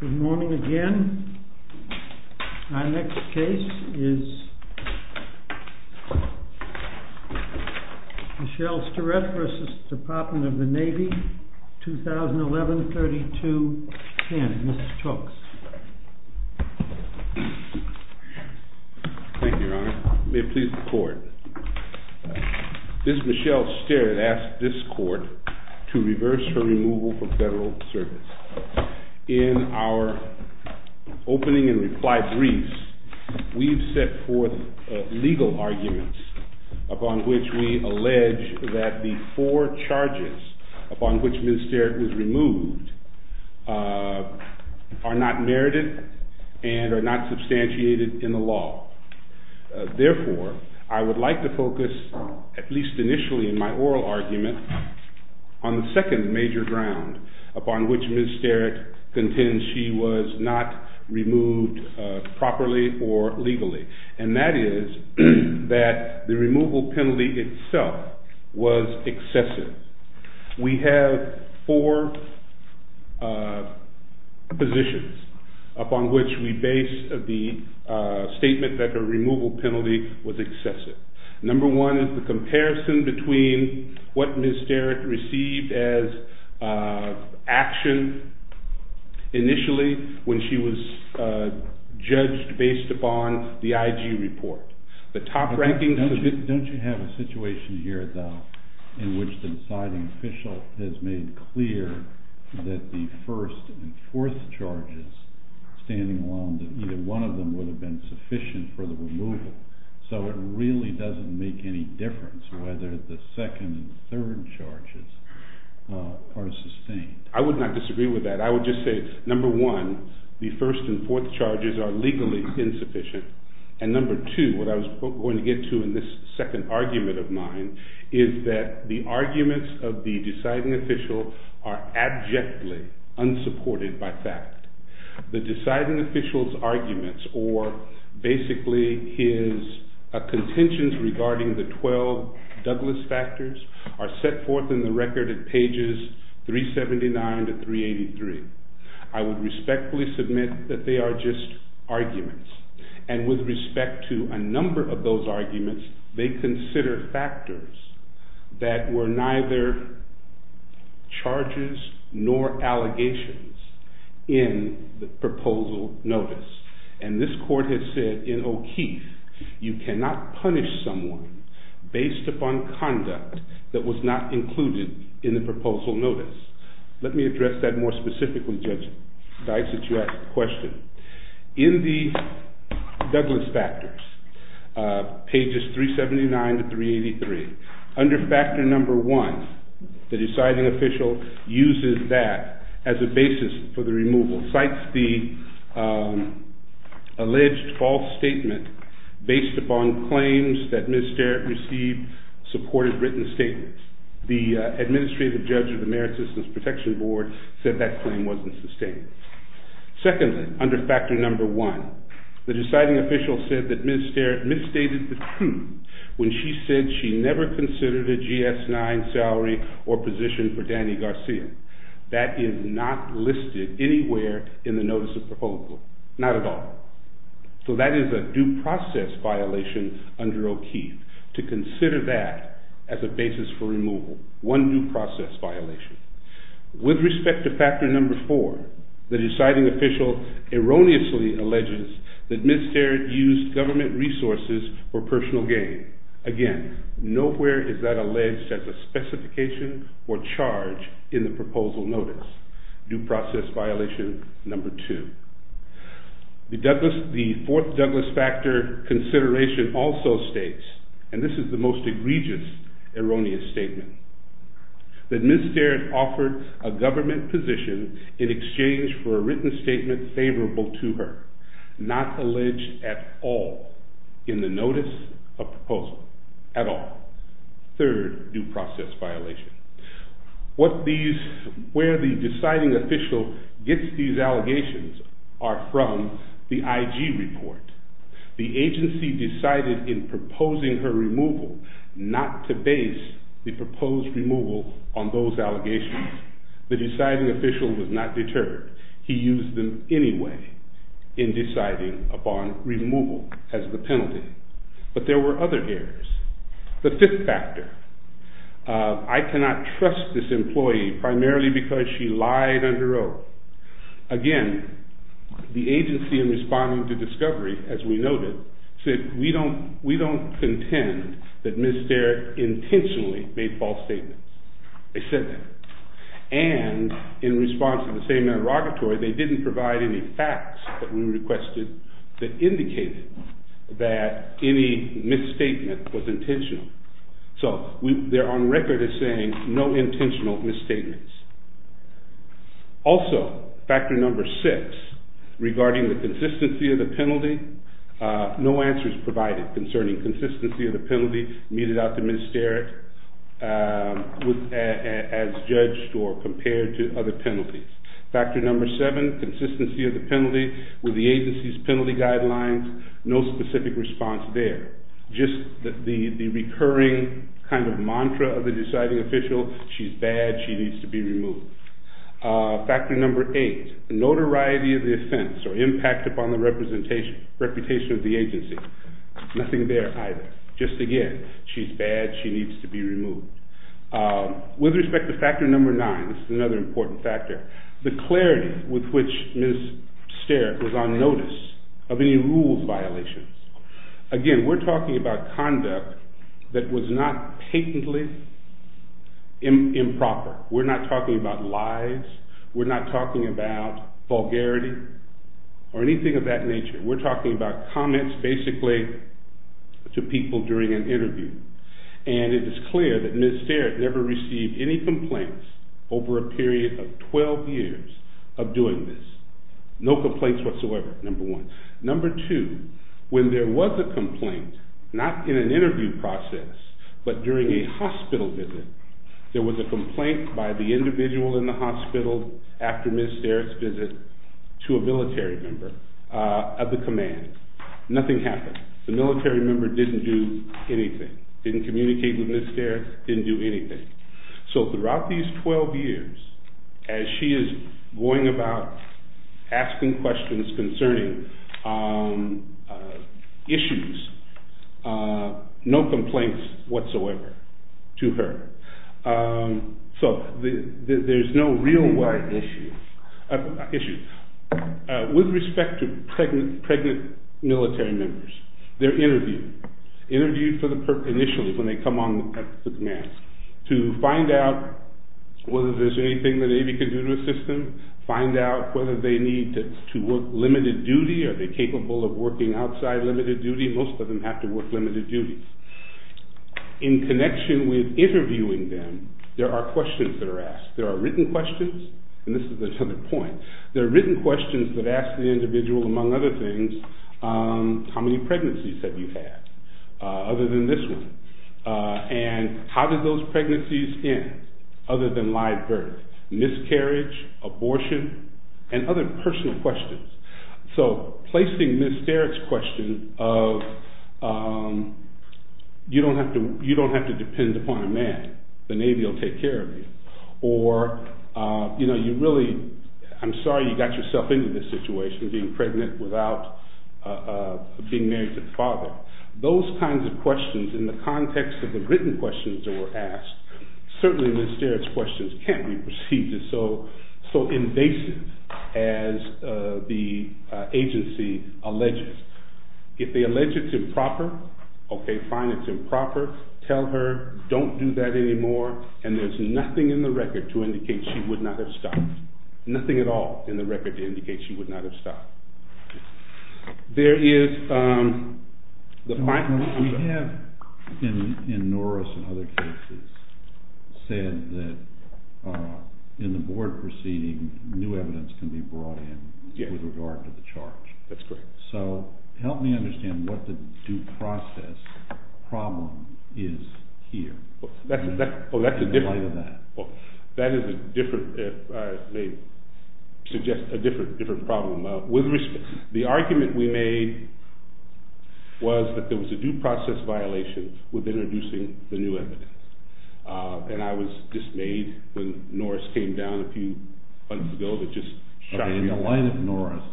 Good morning again. Our next case is Michelle Sterrett v. Department of the Navy, 2011-32-10. Mr. Toks. Thank you, Your Honor. May it please the Court. Ms. Michelle Sterrett asked this Court to reverse her removal from federal service. In our opening and reply briefs, we've set forth legal arguments upon which we allege that the four charges upon which Ms. Sterrett was removed are not merited and are not substantiated in the law. Therefore, I would like to focus, at least initially in my oral argument, on the second major ground upon which Ms. Sterrett contends she was not removed properly or legally, and that is that the removal penalty itself was excessive. We have four positions upon which we base the statement that her removal penalty was excessive. Number one is the comparison between what Ms. Sterrett received as action initially when she was judged based upon the IG report. Don't you have a situation here, though, in which the deciding official has made clear that the first and fourth charges, standing alone, that either one of them would have been sufficient for the removal? So it really doesn't make any difference whether the second and third charges are sustained. I would not disagree with that. I would just say, number one, the first and fourth charges are legally insufficient, and number two, what I was going to get to in this second argument of mine, is that the arguments of the deciding official are abjectly unsupported by fact. The deciding official's arguments, or basically his contentions regarding the 12 Douglas factors, are set forth in the record at pages 379 to 383. I would respectfully submit that they are just arguments, and with respect to a number of those arguments, they consider factors that were neither charges nor allegations in the proposal notice, and this court has said in O'Keeffe, you cannot punish someone based upon conduct that was not included in the proposal notice. Let me address that more specifically, Judge Dice, since you asked the question. In the Douglas factors, pages 379 to 383, under factor number one, the deciding official uses that as a basis for the removal, cites the alleged false statement based upon claims that Ms. Derrick received supported written statements. The administrative judge of the Merit Systems Protection Board said that claim wasn't sustained. Secondly, under factor number one, the deciding official said that Ms. Derrick misstated the claim when she said she never considered a GS-9 salary or position for Danny Garcia. That is not listed anywhere in the notice of proposal. Not at all. So that is a due process violation under O'Keeffe, to consider that as a basis for removal. One due process violation. With respect to factor number four, the deciding official erroneously alleges that Ms. Derrick used government resources for personal gain. Again, nowhere is that alleged as a specification or charge in the proposal notice. Due process violation number two. The fourth Douglas factor consideration also states, and this is the most egregious erroneous statement, that Ms. Derrick offered a government position in exchange for a written statement favorable to her. Not alleged at all in the notice of proposal. At all. Third due process violation. What these, where the deciding official gets these allegations are from the IG report. The agency decided in proposing her removal not to base the proposed removal on those allegations. The deciding official was not deterred. He used them anyway in deciding upon removal as the penalty. But there were other errors. The fifth factor. I cannot trust this employee primarily because she lied under oath. Again, the agency in responding to discovery, as we noted, said we don't contend that Ms. Derrick intentionally made false statements. They said that. And in response to the same interrogatory, they didn't provide any facts that we requested that indicated that any misstatement was intentional. So they're on record as saying no intentional misstatements. Also, factor number six regarding the consistency of the penalty. No answers provided concerning consistency of the penalty meted out to Ms. Derrick as judged or compared to other penalties. Factor number seven, consistency of the penalty. With the agency's penalty guidelines, no specific response there. Just the recurring kind of mantra of the deciding official, she's bad, she needs to be removed. Factor number eight, notoriety of the offense or impact upon the reputation of the agency. Nothing there either. Just again, she's bad, she needs to be removed. With respect to factor number nine, this is another important factor, the clarity with which Ms. Derrick was on notice of any rules violations. Again, we're talking about conduct that was not patently improper. We're not talking about lies. We're not talking about vulgarity or anything of that nature. We're talking about comments basically to people during an interview. And it is clear that Ms. Derrick never received any complaints over a period of 12 years of doing this. No complaints whatsoever, number one. Number two, when there was a complaint, not in an interview process, but during a hospital visit, there was a complaint by the individual in the hospital after Ms. Derrick's visit to a military member of the command. Nothing happened. The military member didn't do anything, didn't communicate with Ms. Derrick, didn't do anything. So throughout these 12 years, as she is going about asking questions concerning issues, no complaints whatsoever to her. So there's no real issues. With respect to pregnant military members, they're interviewed. Interviewed initially when they come on the command to find out whether there's anything the Navy can do to assist them, find out whether they need to work limited duty, are they capable of working outside limited duty, most of them have to work limited duty. In connection with interviewing them, there are questions that are asked. There are written questions, and this is another point. There are written questions that ask the individual, among other things, how many pregnancies have you had, other than this one. And how did those pregnancies end, other than live birth. Miscarriage, abortion, and other personal questions. So placing Ms. Derrick's question of you don't have to depend upon a man, the Navy will take care of you. Or, you know, you really, I'm sorry you got yourself into this situation being pregnant without being married to the father. Those kinds of questions in the context of the written questions that were asked, certainly Ms. Derrick's questions can't be perceived as so invasive as the agency alleges. If they allege it's improper, okay fine it's improper, tell her don't do that anymore, and there's nothing in the record to indicate she would not have stopped. Nothing at all in the record to indicate she would not have stopped. We have in Norris and other cases said that in the board proceeding new evidence can be brought in with regard to the charge. So help me understand what the due process problem is here. That is a different, I may suggest a different problem. With respect, the argument we made was that there was a due process violation with introducing the new evidence. And I was dismayed when Norris came down a few months ago that just shot me in the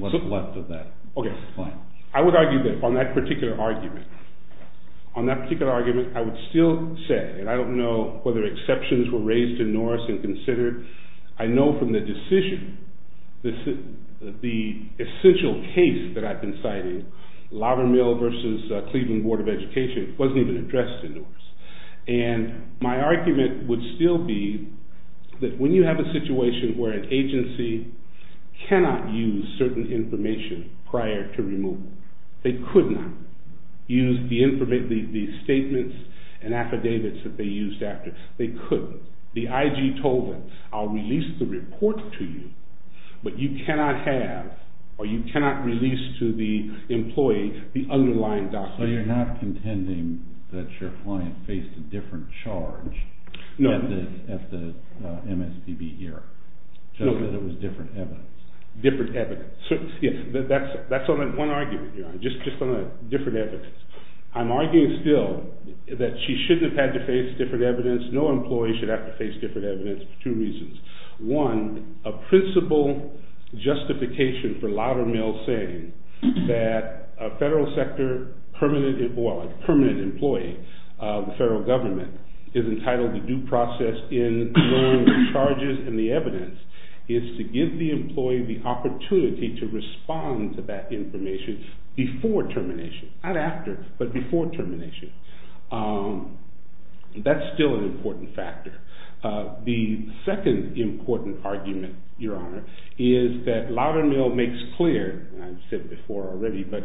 foot. Okay, I would argue that on that particular argument, on that particular argument I would still say, and I don't know whether exceptions were raised in Norris and considered, I know from the decision, the essential case that I've been citing, Laverne Mill versus Cleveland Board of Education wasn't even addressed in Norris. And my argument would still be that when you have a situation where an agency cannot use certain information prior to removal, they could not use the statements and affidavits that they used after, they couldn't. The IG told them, I'll release the report to you, but you cannot have, or you cannot release to the employee the underlying documents. So you're not contending that your client faced a different charge at the MSPB here? No. Just that it was different evidence? Yes, that's one argument, just on the different evidence. I'm arguing still that she shouldn't have had to face different evidence, no employee should have to face different evidence for two reasons. One, a principle justification for Laverne Mill saying that a federal sector permanent employee of the federal government is entitled to due process in knowing the charges and the evidence is to give the employee the opportunity to respond to that information before termination, not after, but before termination. That's still an important factor. The second important argument, Your Honor, is that Laverne Mill makes clear, and I've said before already, but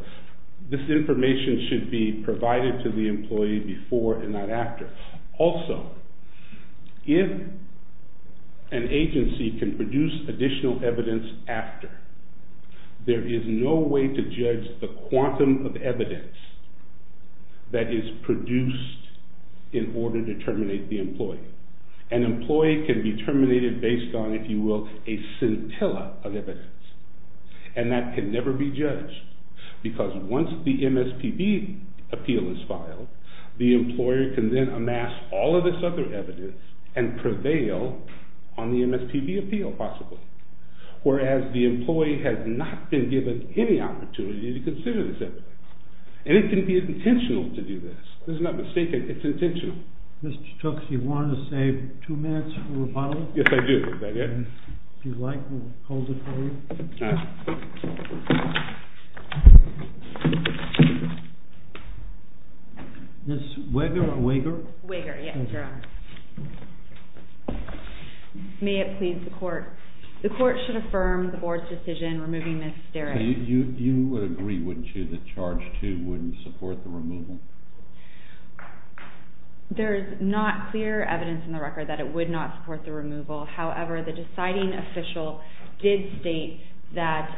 this information should be provided to the employee before and not after. Also, if an agency can produce additional evidence after, there is no way to judge the quantum of evidence that is produced in order to terminate the employee. An employee can be terminated based on, if you will, a scintilla of evidence. And that can never be judged, because once the MSPB appeal is filed, the employer can then amass all of this other evidence and prevail on the MSPB appeal, possibly. Whereas the employee has not been given any opportunity to consider this evidence. And it can be intentional to do this. This is not mistaken, it's intentional. Thank you. Mr. Tooks, you want to save two minutes for rebuttal? Yes, I do. If you'd like, we'll hold it for you. Ms. Wager? Wager, yes, Your Honor. May it please the Court. The Court should affirm the Board's decision removing Ms. Derrick. You would agree, wouldn't you, that Charge 2 wouldn't support the removal? There's not clear evidence in the record that it would not support the removal. However, the deciding official did state that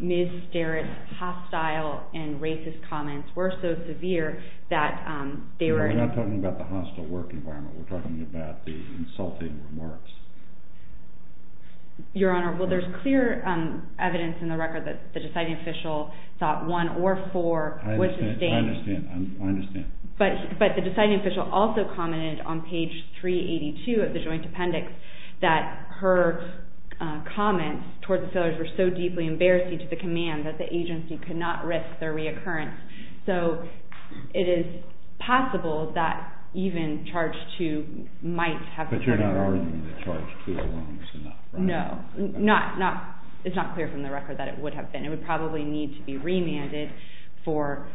Ms. Derrick's hostile and racist comments were so severe that they were— We're not talking about the hostile work environment. We're talking about the insulting remarks. Your Honor, well, there's clear evidence in the record that the deciding official thought one or four would— I understand. I understand. But the deciding official also commented on page 382 of the joint appendix that her comments toward the sailors were so deeply embarrassing to the command that the agency could not risk their reoccurrence. So it is possible that even Charge 2 might have— But you're not arguing that Charge 2 alone is enough, right? No. It's not clear from the record that it would have been. It would probably need to be remanded for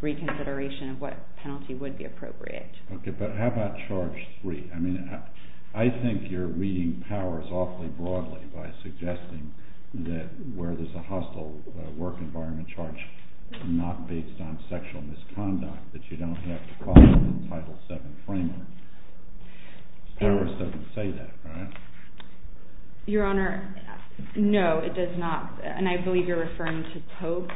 reconsideration of what penalty would be appropriate. Okay. But how about Charge 3? I mean, I think you're reading powers awfully broadly by suggesting that where there's a hostile work environment charge not based on sexual misconduct, that you don't have to call it in Title VII framework. Starrer doesn't say that, right? Your Honor, no, it does not. And I believe you're referring to Pope.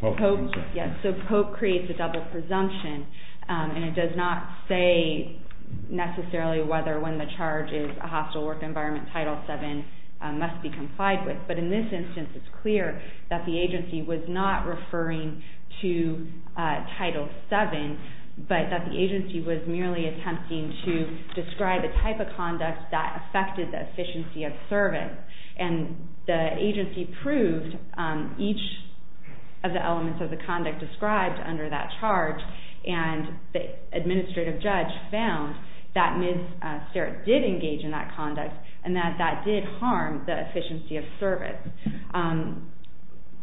Pope, yes. So Pope creates a double presumption. And it does not say necessarily whether when the charge is a hostile work environment, Title VII must be complied with. But in this instance, it's clear that the agency was not referring to Title VII, but that the agency was merely attempting to describe a type of conduct that affected the efficiency of service. And the agency proved each of the elements of the conduct described under that charge, and the administrative judge found that Ms. Starrer did engage in that conduct, and that that did harm the efficiency of service.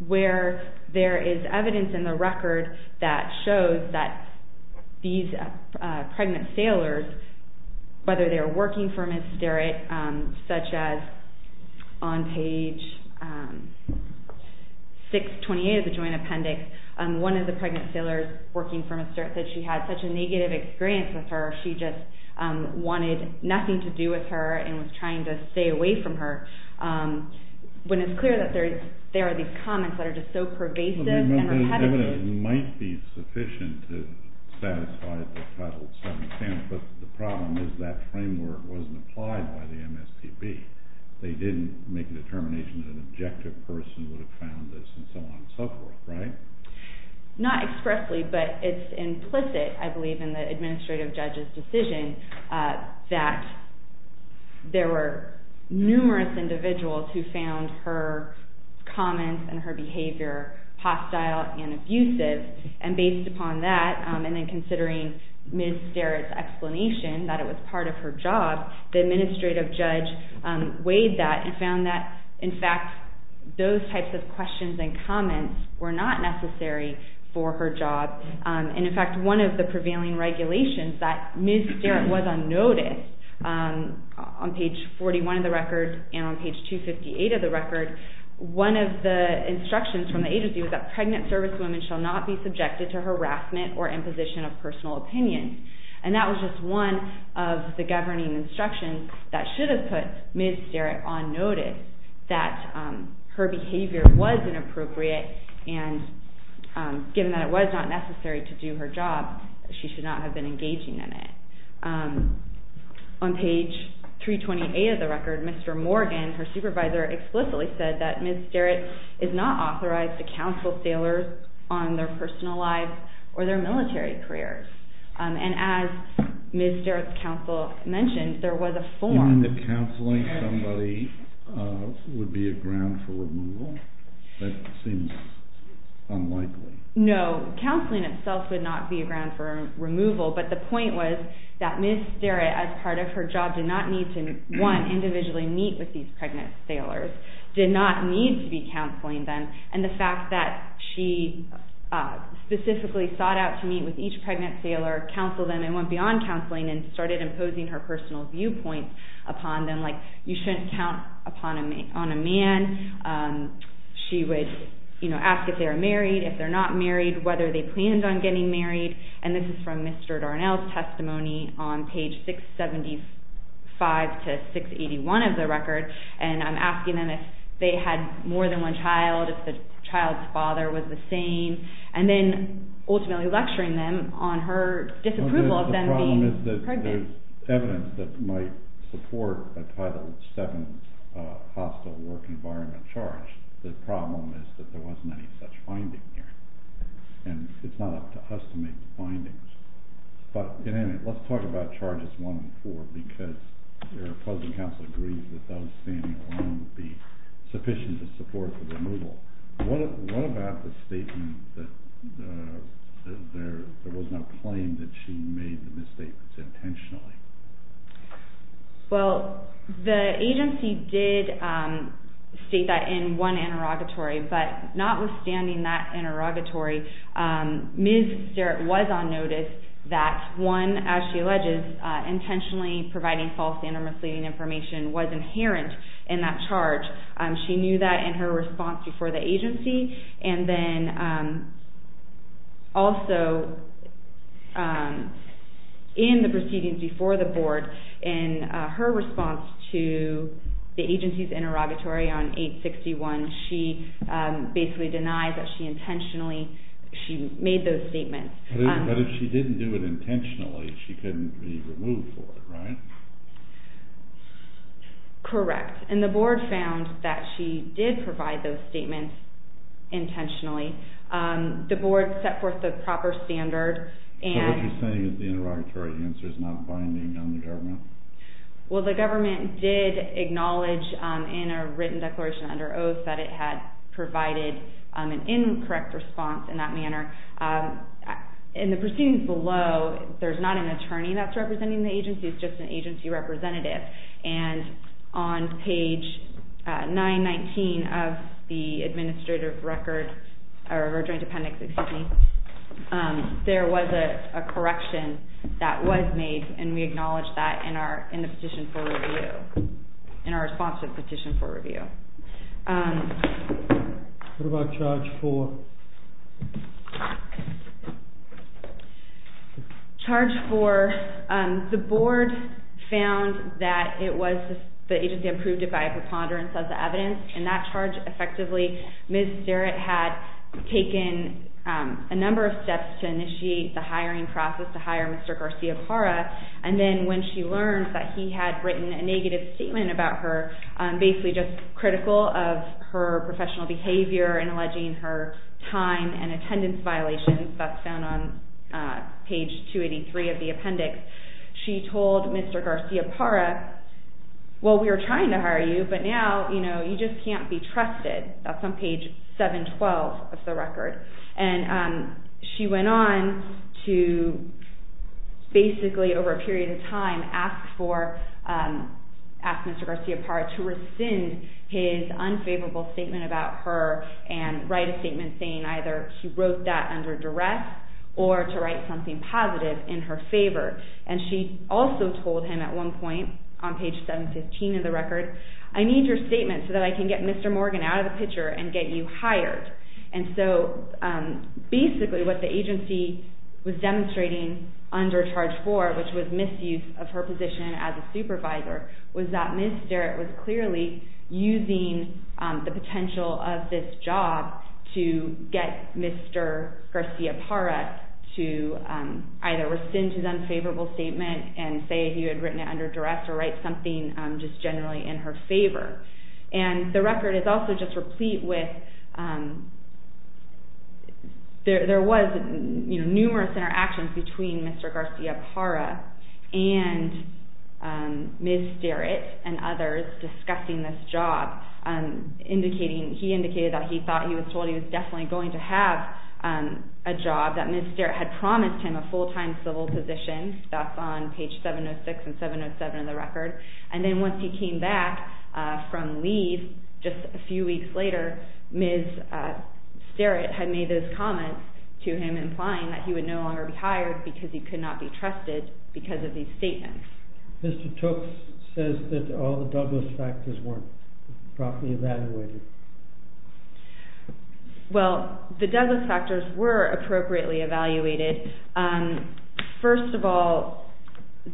Where there is evidence in the record that shows that these pregnant sailors, whether they were working for Ms. Starrer, such as on page 628 of the Joint Appendix, one of the pregnant sailors working for Ms. Starrer said she had such a negative experience with her, she just wanted nothing to do with her and was trying to stay away from her. When it's clear that there are these comments that are just so pervasive and repetitive... Well, there's evidence that might be sufficient to satisfy the Title VII stance, but the problem is that framework wasn't applied by the MSPB. They didn't make a determination that an objective person would have found this and so on and so forth, right? Not expressly, but it's implicit, I believe, in the administrative judge's decision that there were numerous individuals who found her comments and her behavior hostile and abusive, and based upon that, and then considering Ms. Starrer's explanation that it was part of her job, the administrative judge weighed that and found that, in fact, those types of questions and comments were not necessary for her job. And in fact, one of the prevailing regulations that Ms. Starrer was on notice, on page 41 of the record and on page 258 of the record, one of the instructions from the agency was that pregnant servicewomen shall not be subjected to harassment or imposition of personal opinion, and that was just one of the governing instructions that should have put Ms. Starrer on notice, that her behavior was inappropriate, and given that it was not necessary to do her job, she should not have been engaging in it. On page 328 of the record, Mr. Morgan, her supervisor, explicitly said that Ms. Starrer is not authorized to counsel sailors on their personal lives or their military careers, and as Ms. Starrer's counsel mentioned, there was a form... No, counseling itself would not be a ground for removal, but the point was that Ms. Starrer, as part of her job, did not need to, one, individually meet with these pregnant sailors, did not need to be counseling them, and the fact that she specifically sought out to meet with each pregnant sailor, counseled them and went beyond counseling and started imposing her personal viewpoints upon them, like you shouldn't count on a man. She would ask if they were married, if they're not married, whether they planned on getting married, and this is from Mr. Darnell's testimony on page 675 to 681 of the record, and I'm asking them if they had more than one child, if the child's father was the same, and then ultimately lecturing them on her disapproval of them being pregnant. There's evidence that might support a Title VII hostile work environment charge. The problem is that there wasn't any such finding here, and it's not up to us to make the findings. But, at any rate, let's talk about charges 1 and 4, because your opposing counsel agrees that those standing alone would be sufficient as support for removal. What about the statement that there was no claim that she made the misstatements intentionally? Well, the agency did state that in one interrogatory, but notwithstanding that interrogatory, Ms. Starrett was on notice that one, as she alleges, intentionally providing false and misleading information was inherent in that charge. She knew that in her response before the agency, and then also in the proceedings before the board, in her response to the agency's interrogatory on 861, she basically denied that she intentionally made those statements. But if she didn't do it intentionally, she couldn't be removed for it, right? Correct. And the board found that she did provide those statements intentionally. The board set forth the proper standard. So what you're saying is the interrogatory answer is not binding on the government? Well, the government did acknowledge in a written declaration under oath that it had provided an incorrect response in that manner. In the proceedings below, there's not an attorney that's representing the agency. It's just an agency representative. And on page 919 of the administrative record, or joint appendix, excuse me, there was a correction that was made, and we acknowledge that in the petition for review, in our response to the petition for review. What about charge 4? Charge 4, the board found that it was the agency approved it by a preponderance of the evidence. In that charge, effectively, Ms. Starrett had taken a number of steps to initiate the hiring process to hire Mr. Garcia-Cara, and then when she learned that he had written a negative statement about her, basically just critical of her professional behavior and alleging her time and attendance violations, that's found on page 283 of the appendix, she told Mr. Garcia-Cara, well, we were trying to hire you, but now, you know, you just can't be trusted. That's on page 712 of the record. And she went on to basically, over a period of time, ask Mr. Garcia-Cara to rescind his unfavorable statement about her and write a statement saying either he wrote that under duress or to write something positive in her favor. And she also told him at one point, on page 715 of the record, I need your statement so that I can get Mr. Morgan out of the picture and get you hired. And so, basically, what the agency was demonstrating under Charge 4, which was misuse of her position as a supervisor, was that Ms. Starrett was clearly using the potential of this job to get Mr. Garcia-Cara to either rescind his unfavorable statement and say he had written it under duress or write something just generally in her favor. And the record is also just replete with, there was numerous interactions between Mr. Garcia-Cara and Ms. Starrett and others discussing this job. He indicated that he thought he was told he was definitely going to have a job, that Ms. Starrett had promised him a full-time civil position. That's on page 706 and 707 of the record. And then once he came back from leave, just a few weeks later, Ms. Starrett had made those comments to him, implying that he would no longer be hired because he could not be trusted because of these statements. Mr. Tooks says that all the Douglas factors weren't properly evaluated. Well, the Douglas factors were appropriately evaluated. First of all,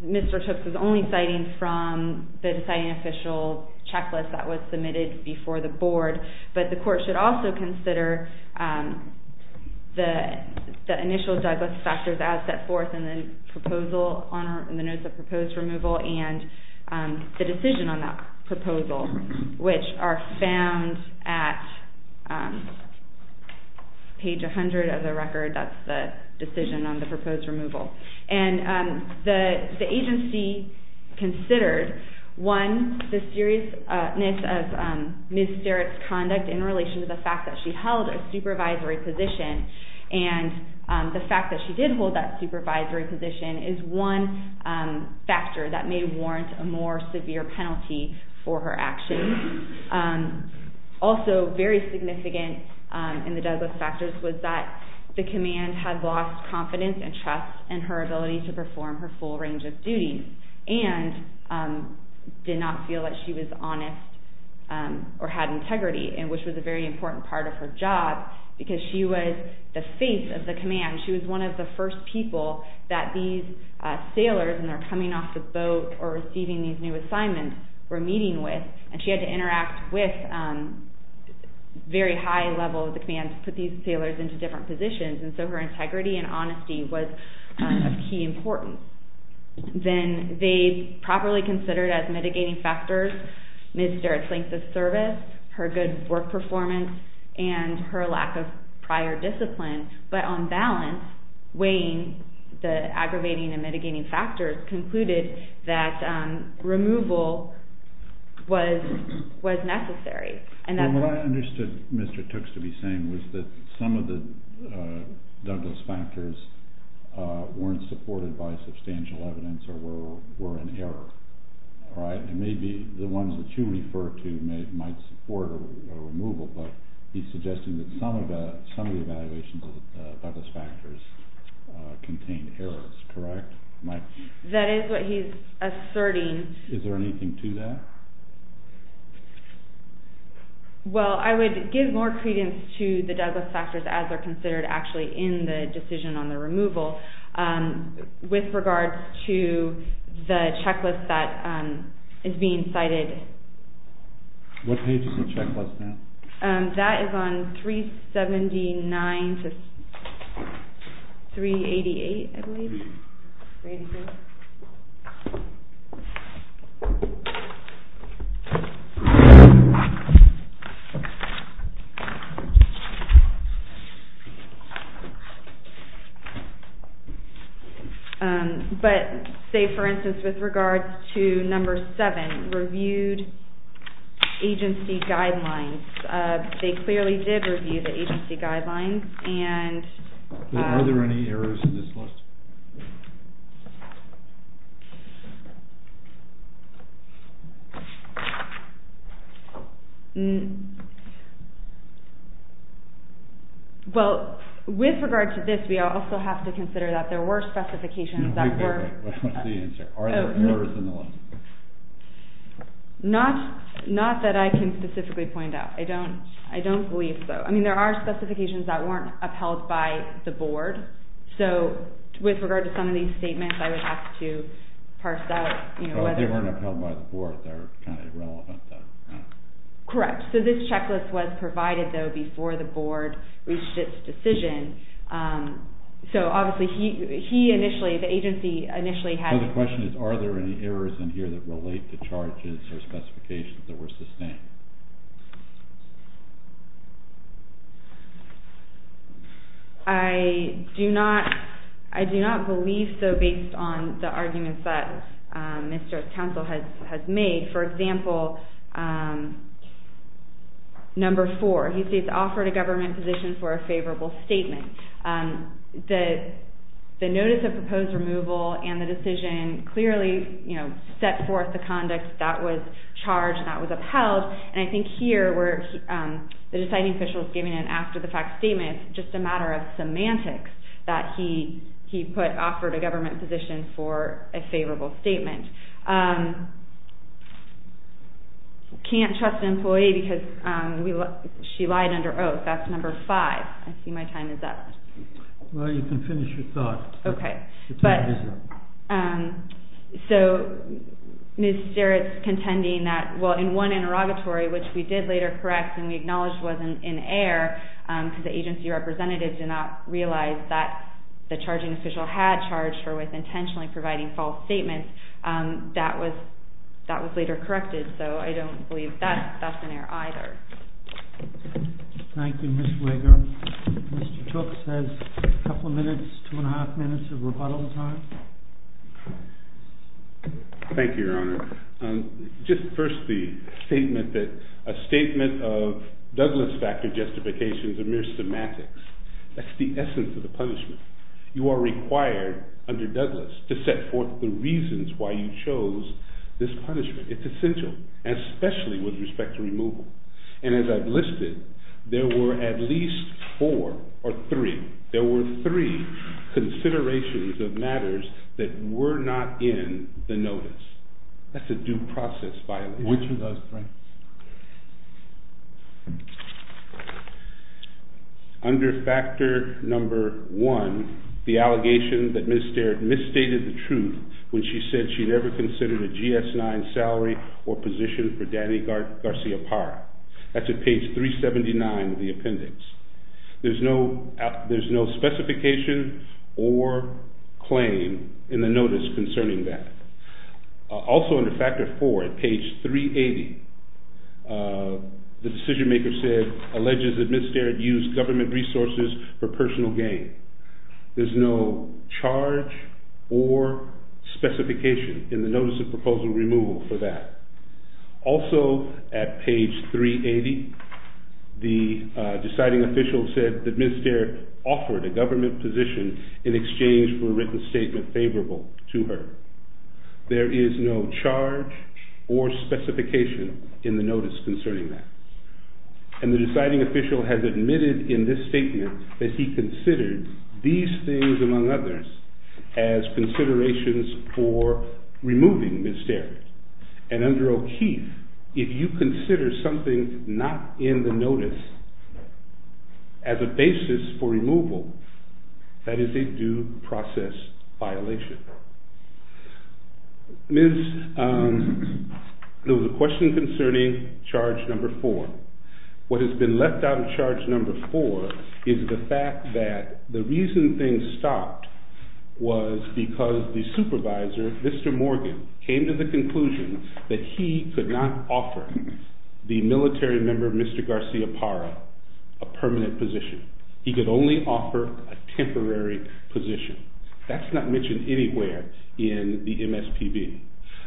Mr. Tooks is only citing from the deciding official checklist that was submitted before the board, but the court should also consider the initial Douglas factors as set forth in the proposal, in the notes of proposed removal, and the decision on that proposal, which are found at page 100 of the record. That's the decision on the proposed removal. And the agency considered, one, the seriousness of Ms. Starrett's conduct in relation to the fact that she held a supervisory position, and the fact that she did hold that supervisory position is one factor that may warrant a more severe penalty for her actions. Also very significant in the Douglas factors was that the command had lost confidence and trust in her ability to perform her full range of duties, and did not feel that she was honest or had integrity, which was a very important part of her job because she was the face of the command. She was one of the first people that these sailors, when they're coming off the boat or receiving these new assignments, were meeting with, and she had to interact with a very high level of the command to put these sailors into different positions, and so her integrity and honesty was of key importance. Then they properly considered as mitigating factors Ms. Starrett's length of service, her good work performance, and her lack of prior discipline, but on balance weighing the aggravating and mitigating factors concluded that removal was necessary. What I understood Mr. Tooks to be saying was that some of the Douglas factors weren't supported by substantial evidence or were in error, and maybe the ones that you refer to might support a removal, but he's suggesting that some of the evaluations of the Douglas factors contained errors, correct? That is what he's asserting. Is there anything to that? Well, I would give more credence to the Douglas factors as they're considered actually in the decision on the removal with regards to the checklist that is being cited. What page is the checklist now? That is on 379 to 388, I believe. But say, for instance, with regards to number seven, reviewed agency guidelines. They clearly did review the agency guidelines. Are there any errors in this list? Well, with regards to this, we also have to consider that there were specifications that were... What's the answer? Are there errors in the list? Not that I can specifically point out. I don't believe so. I mean, there are specifications that weren't upheld by the board, so with regards to some of these statements, I would have to parse that. They weren't upheld by the board. They're kind of irrelevant. Correct. So this checklist was provided, though, before the board reached its decision. So obviously, he initially, the agency initially had... So the question is, are there any errors in here that relate to charges or specifications that were sustained? I do not believe so, based on the arguments that Mr. Townsville has made. For example, number four, he states offered a government position for a favorable statement. The notice of proposed removal and the decision clearly set forth the conduct that was charged, and that was upheld, and I think here, where the deciding official is giving an after-the-fact statement, it's just a matter of semantics that he put offered a government position for a favorable statement. Can't trust an employee because she lied under oath. That's number five. I see my time is up. Well, you can finish your thought. Okay. So Ms. Sterritt's contending that, well, in one interrogatory, which we did later correct and we acknowledged wasn't in error, because the agency representative did not realize that the charging official had charged her with intentionally providing false statements, that was later corrected, so I don't believe that's an error either. Thank you, Ms. Wigger. Mr. Tooks has a couple of minutes, two and a half minutes of rebuttal time. Thank you, Your Honor. Just first the statement that a statement of Douglas-factor justifications are mere semantics. That's the essence of the punishment. You are required under Douglas to set forth the reasons why you chose this punishment. It's essential, especially with respect to removal. And as I've listed, there were at least four or three, there were three considerations of matters that were not in the notice. That's a due process violation. Which of those three? Under factor number one, the allegation that Ms. Sterritt misstated the truth when she said she never considered a GS-9 salary or position for Danny Garcia Parra. That's at page 379 of the appendix. There's no specification or claim in the notice concerning that. Also under factor four at page 380, the decision maker said, alleges that Ms. Sterritt used government resources for personal gain. There's no charge or specification in the notice of proposal removal for that. Also at page 380, the deciding official said that Ms. Sterritt offered a government position in exchange for a written statement favorable to her. There is no charge or specification in the notice concerning that. And the deciding official has admitted in this statement that he considered these things, among others, as considerations for removing Ms. Sterritt. And under O'Keefe, if you consider something not in the notice as a basis for removal, that is a due process violation. Ms., there was a question concerning charge number four. What has been left out of charge number four is the fact that the reason things stopped was because the supervisor, Mr. Morgan, came to the conclusion that he could not offer the military member, Mr. Garcia Parra, a permanent position. He could only offer a temporary position. That's not mentioned anywhere in the MSPB.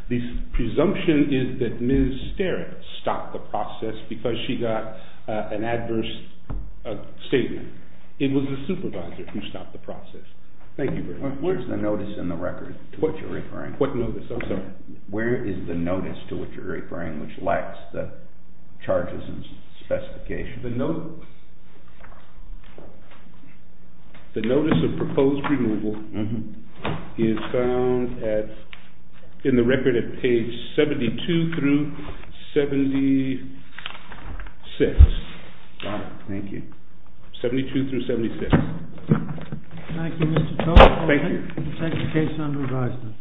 The presumption is that Ms. Sterritt stopped the process because she got an adverse statement. It was the supervisor who stopped the process. Thank you, Bruce. Where's the notice in the record to which you're referring? What notice? I'm sorry. Where is the notice to which you're referring, which lacks the charges and specifications? The notice of proposed removal is found in the record at page 72 through 76. Thank you. 72 through 76. Thank you, Mr. Tocqueville. Thank you. We'll take the case under review.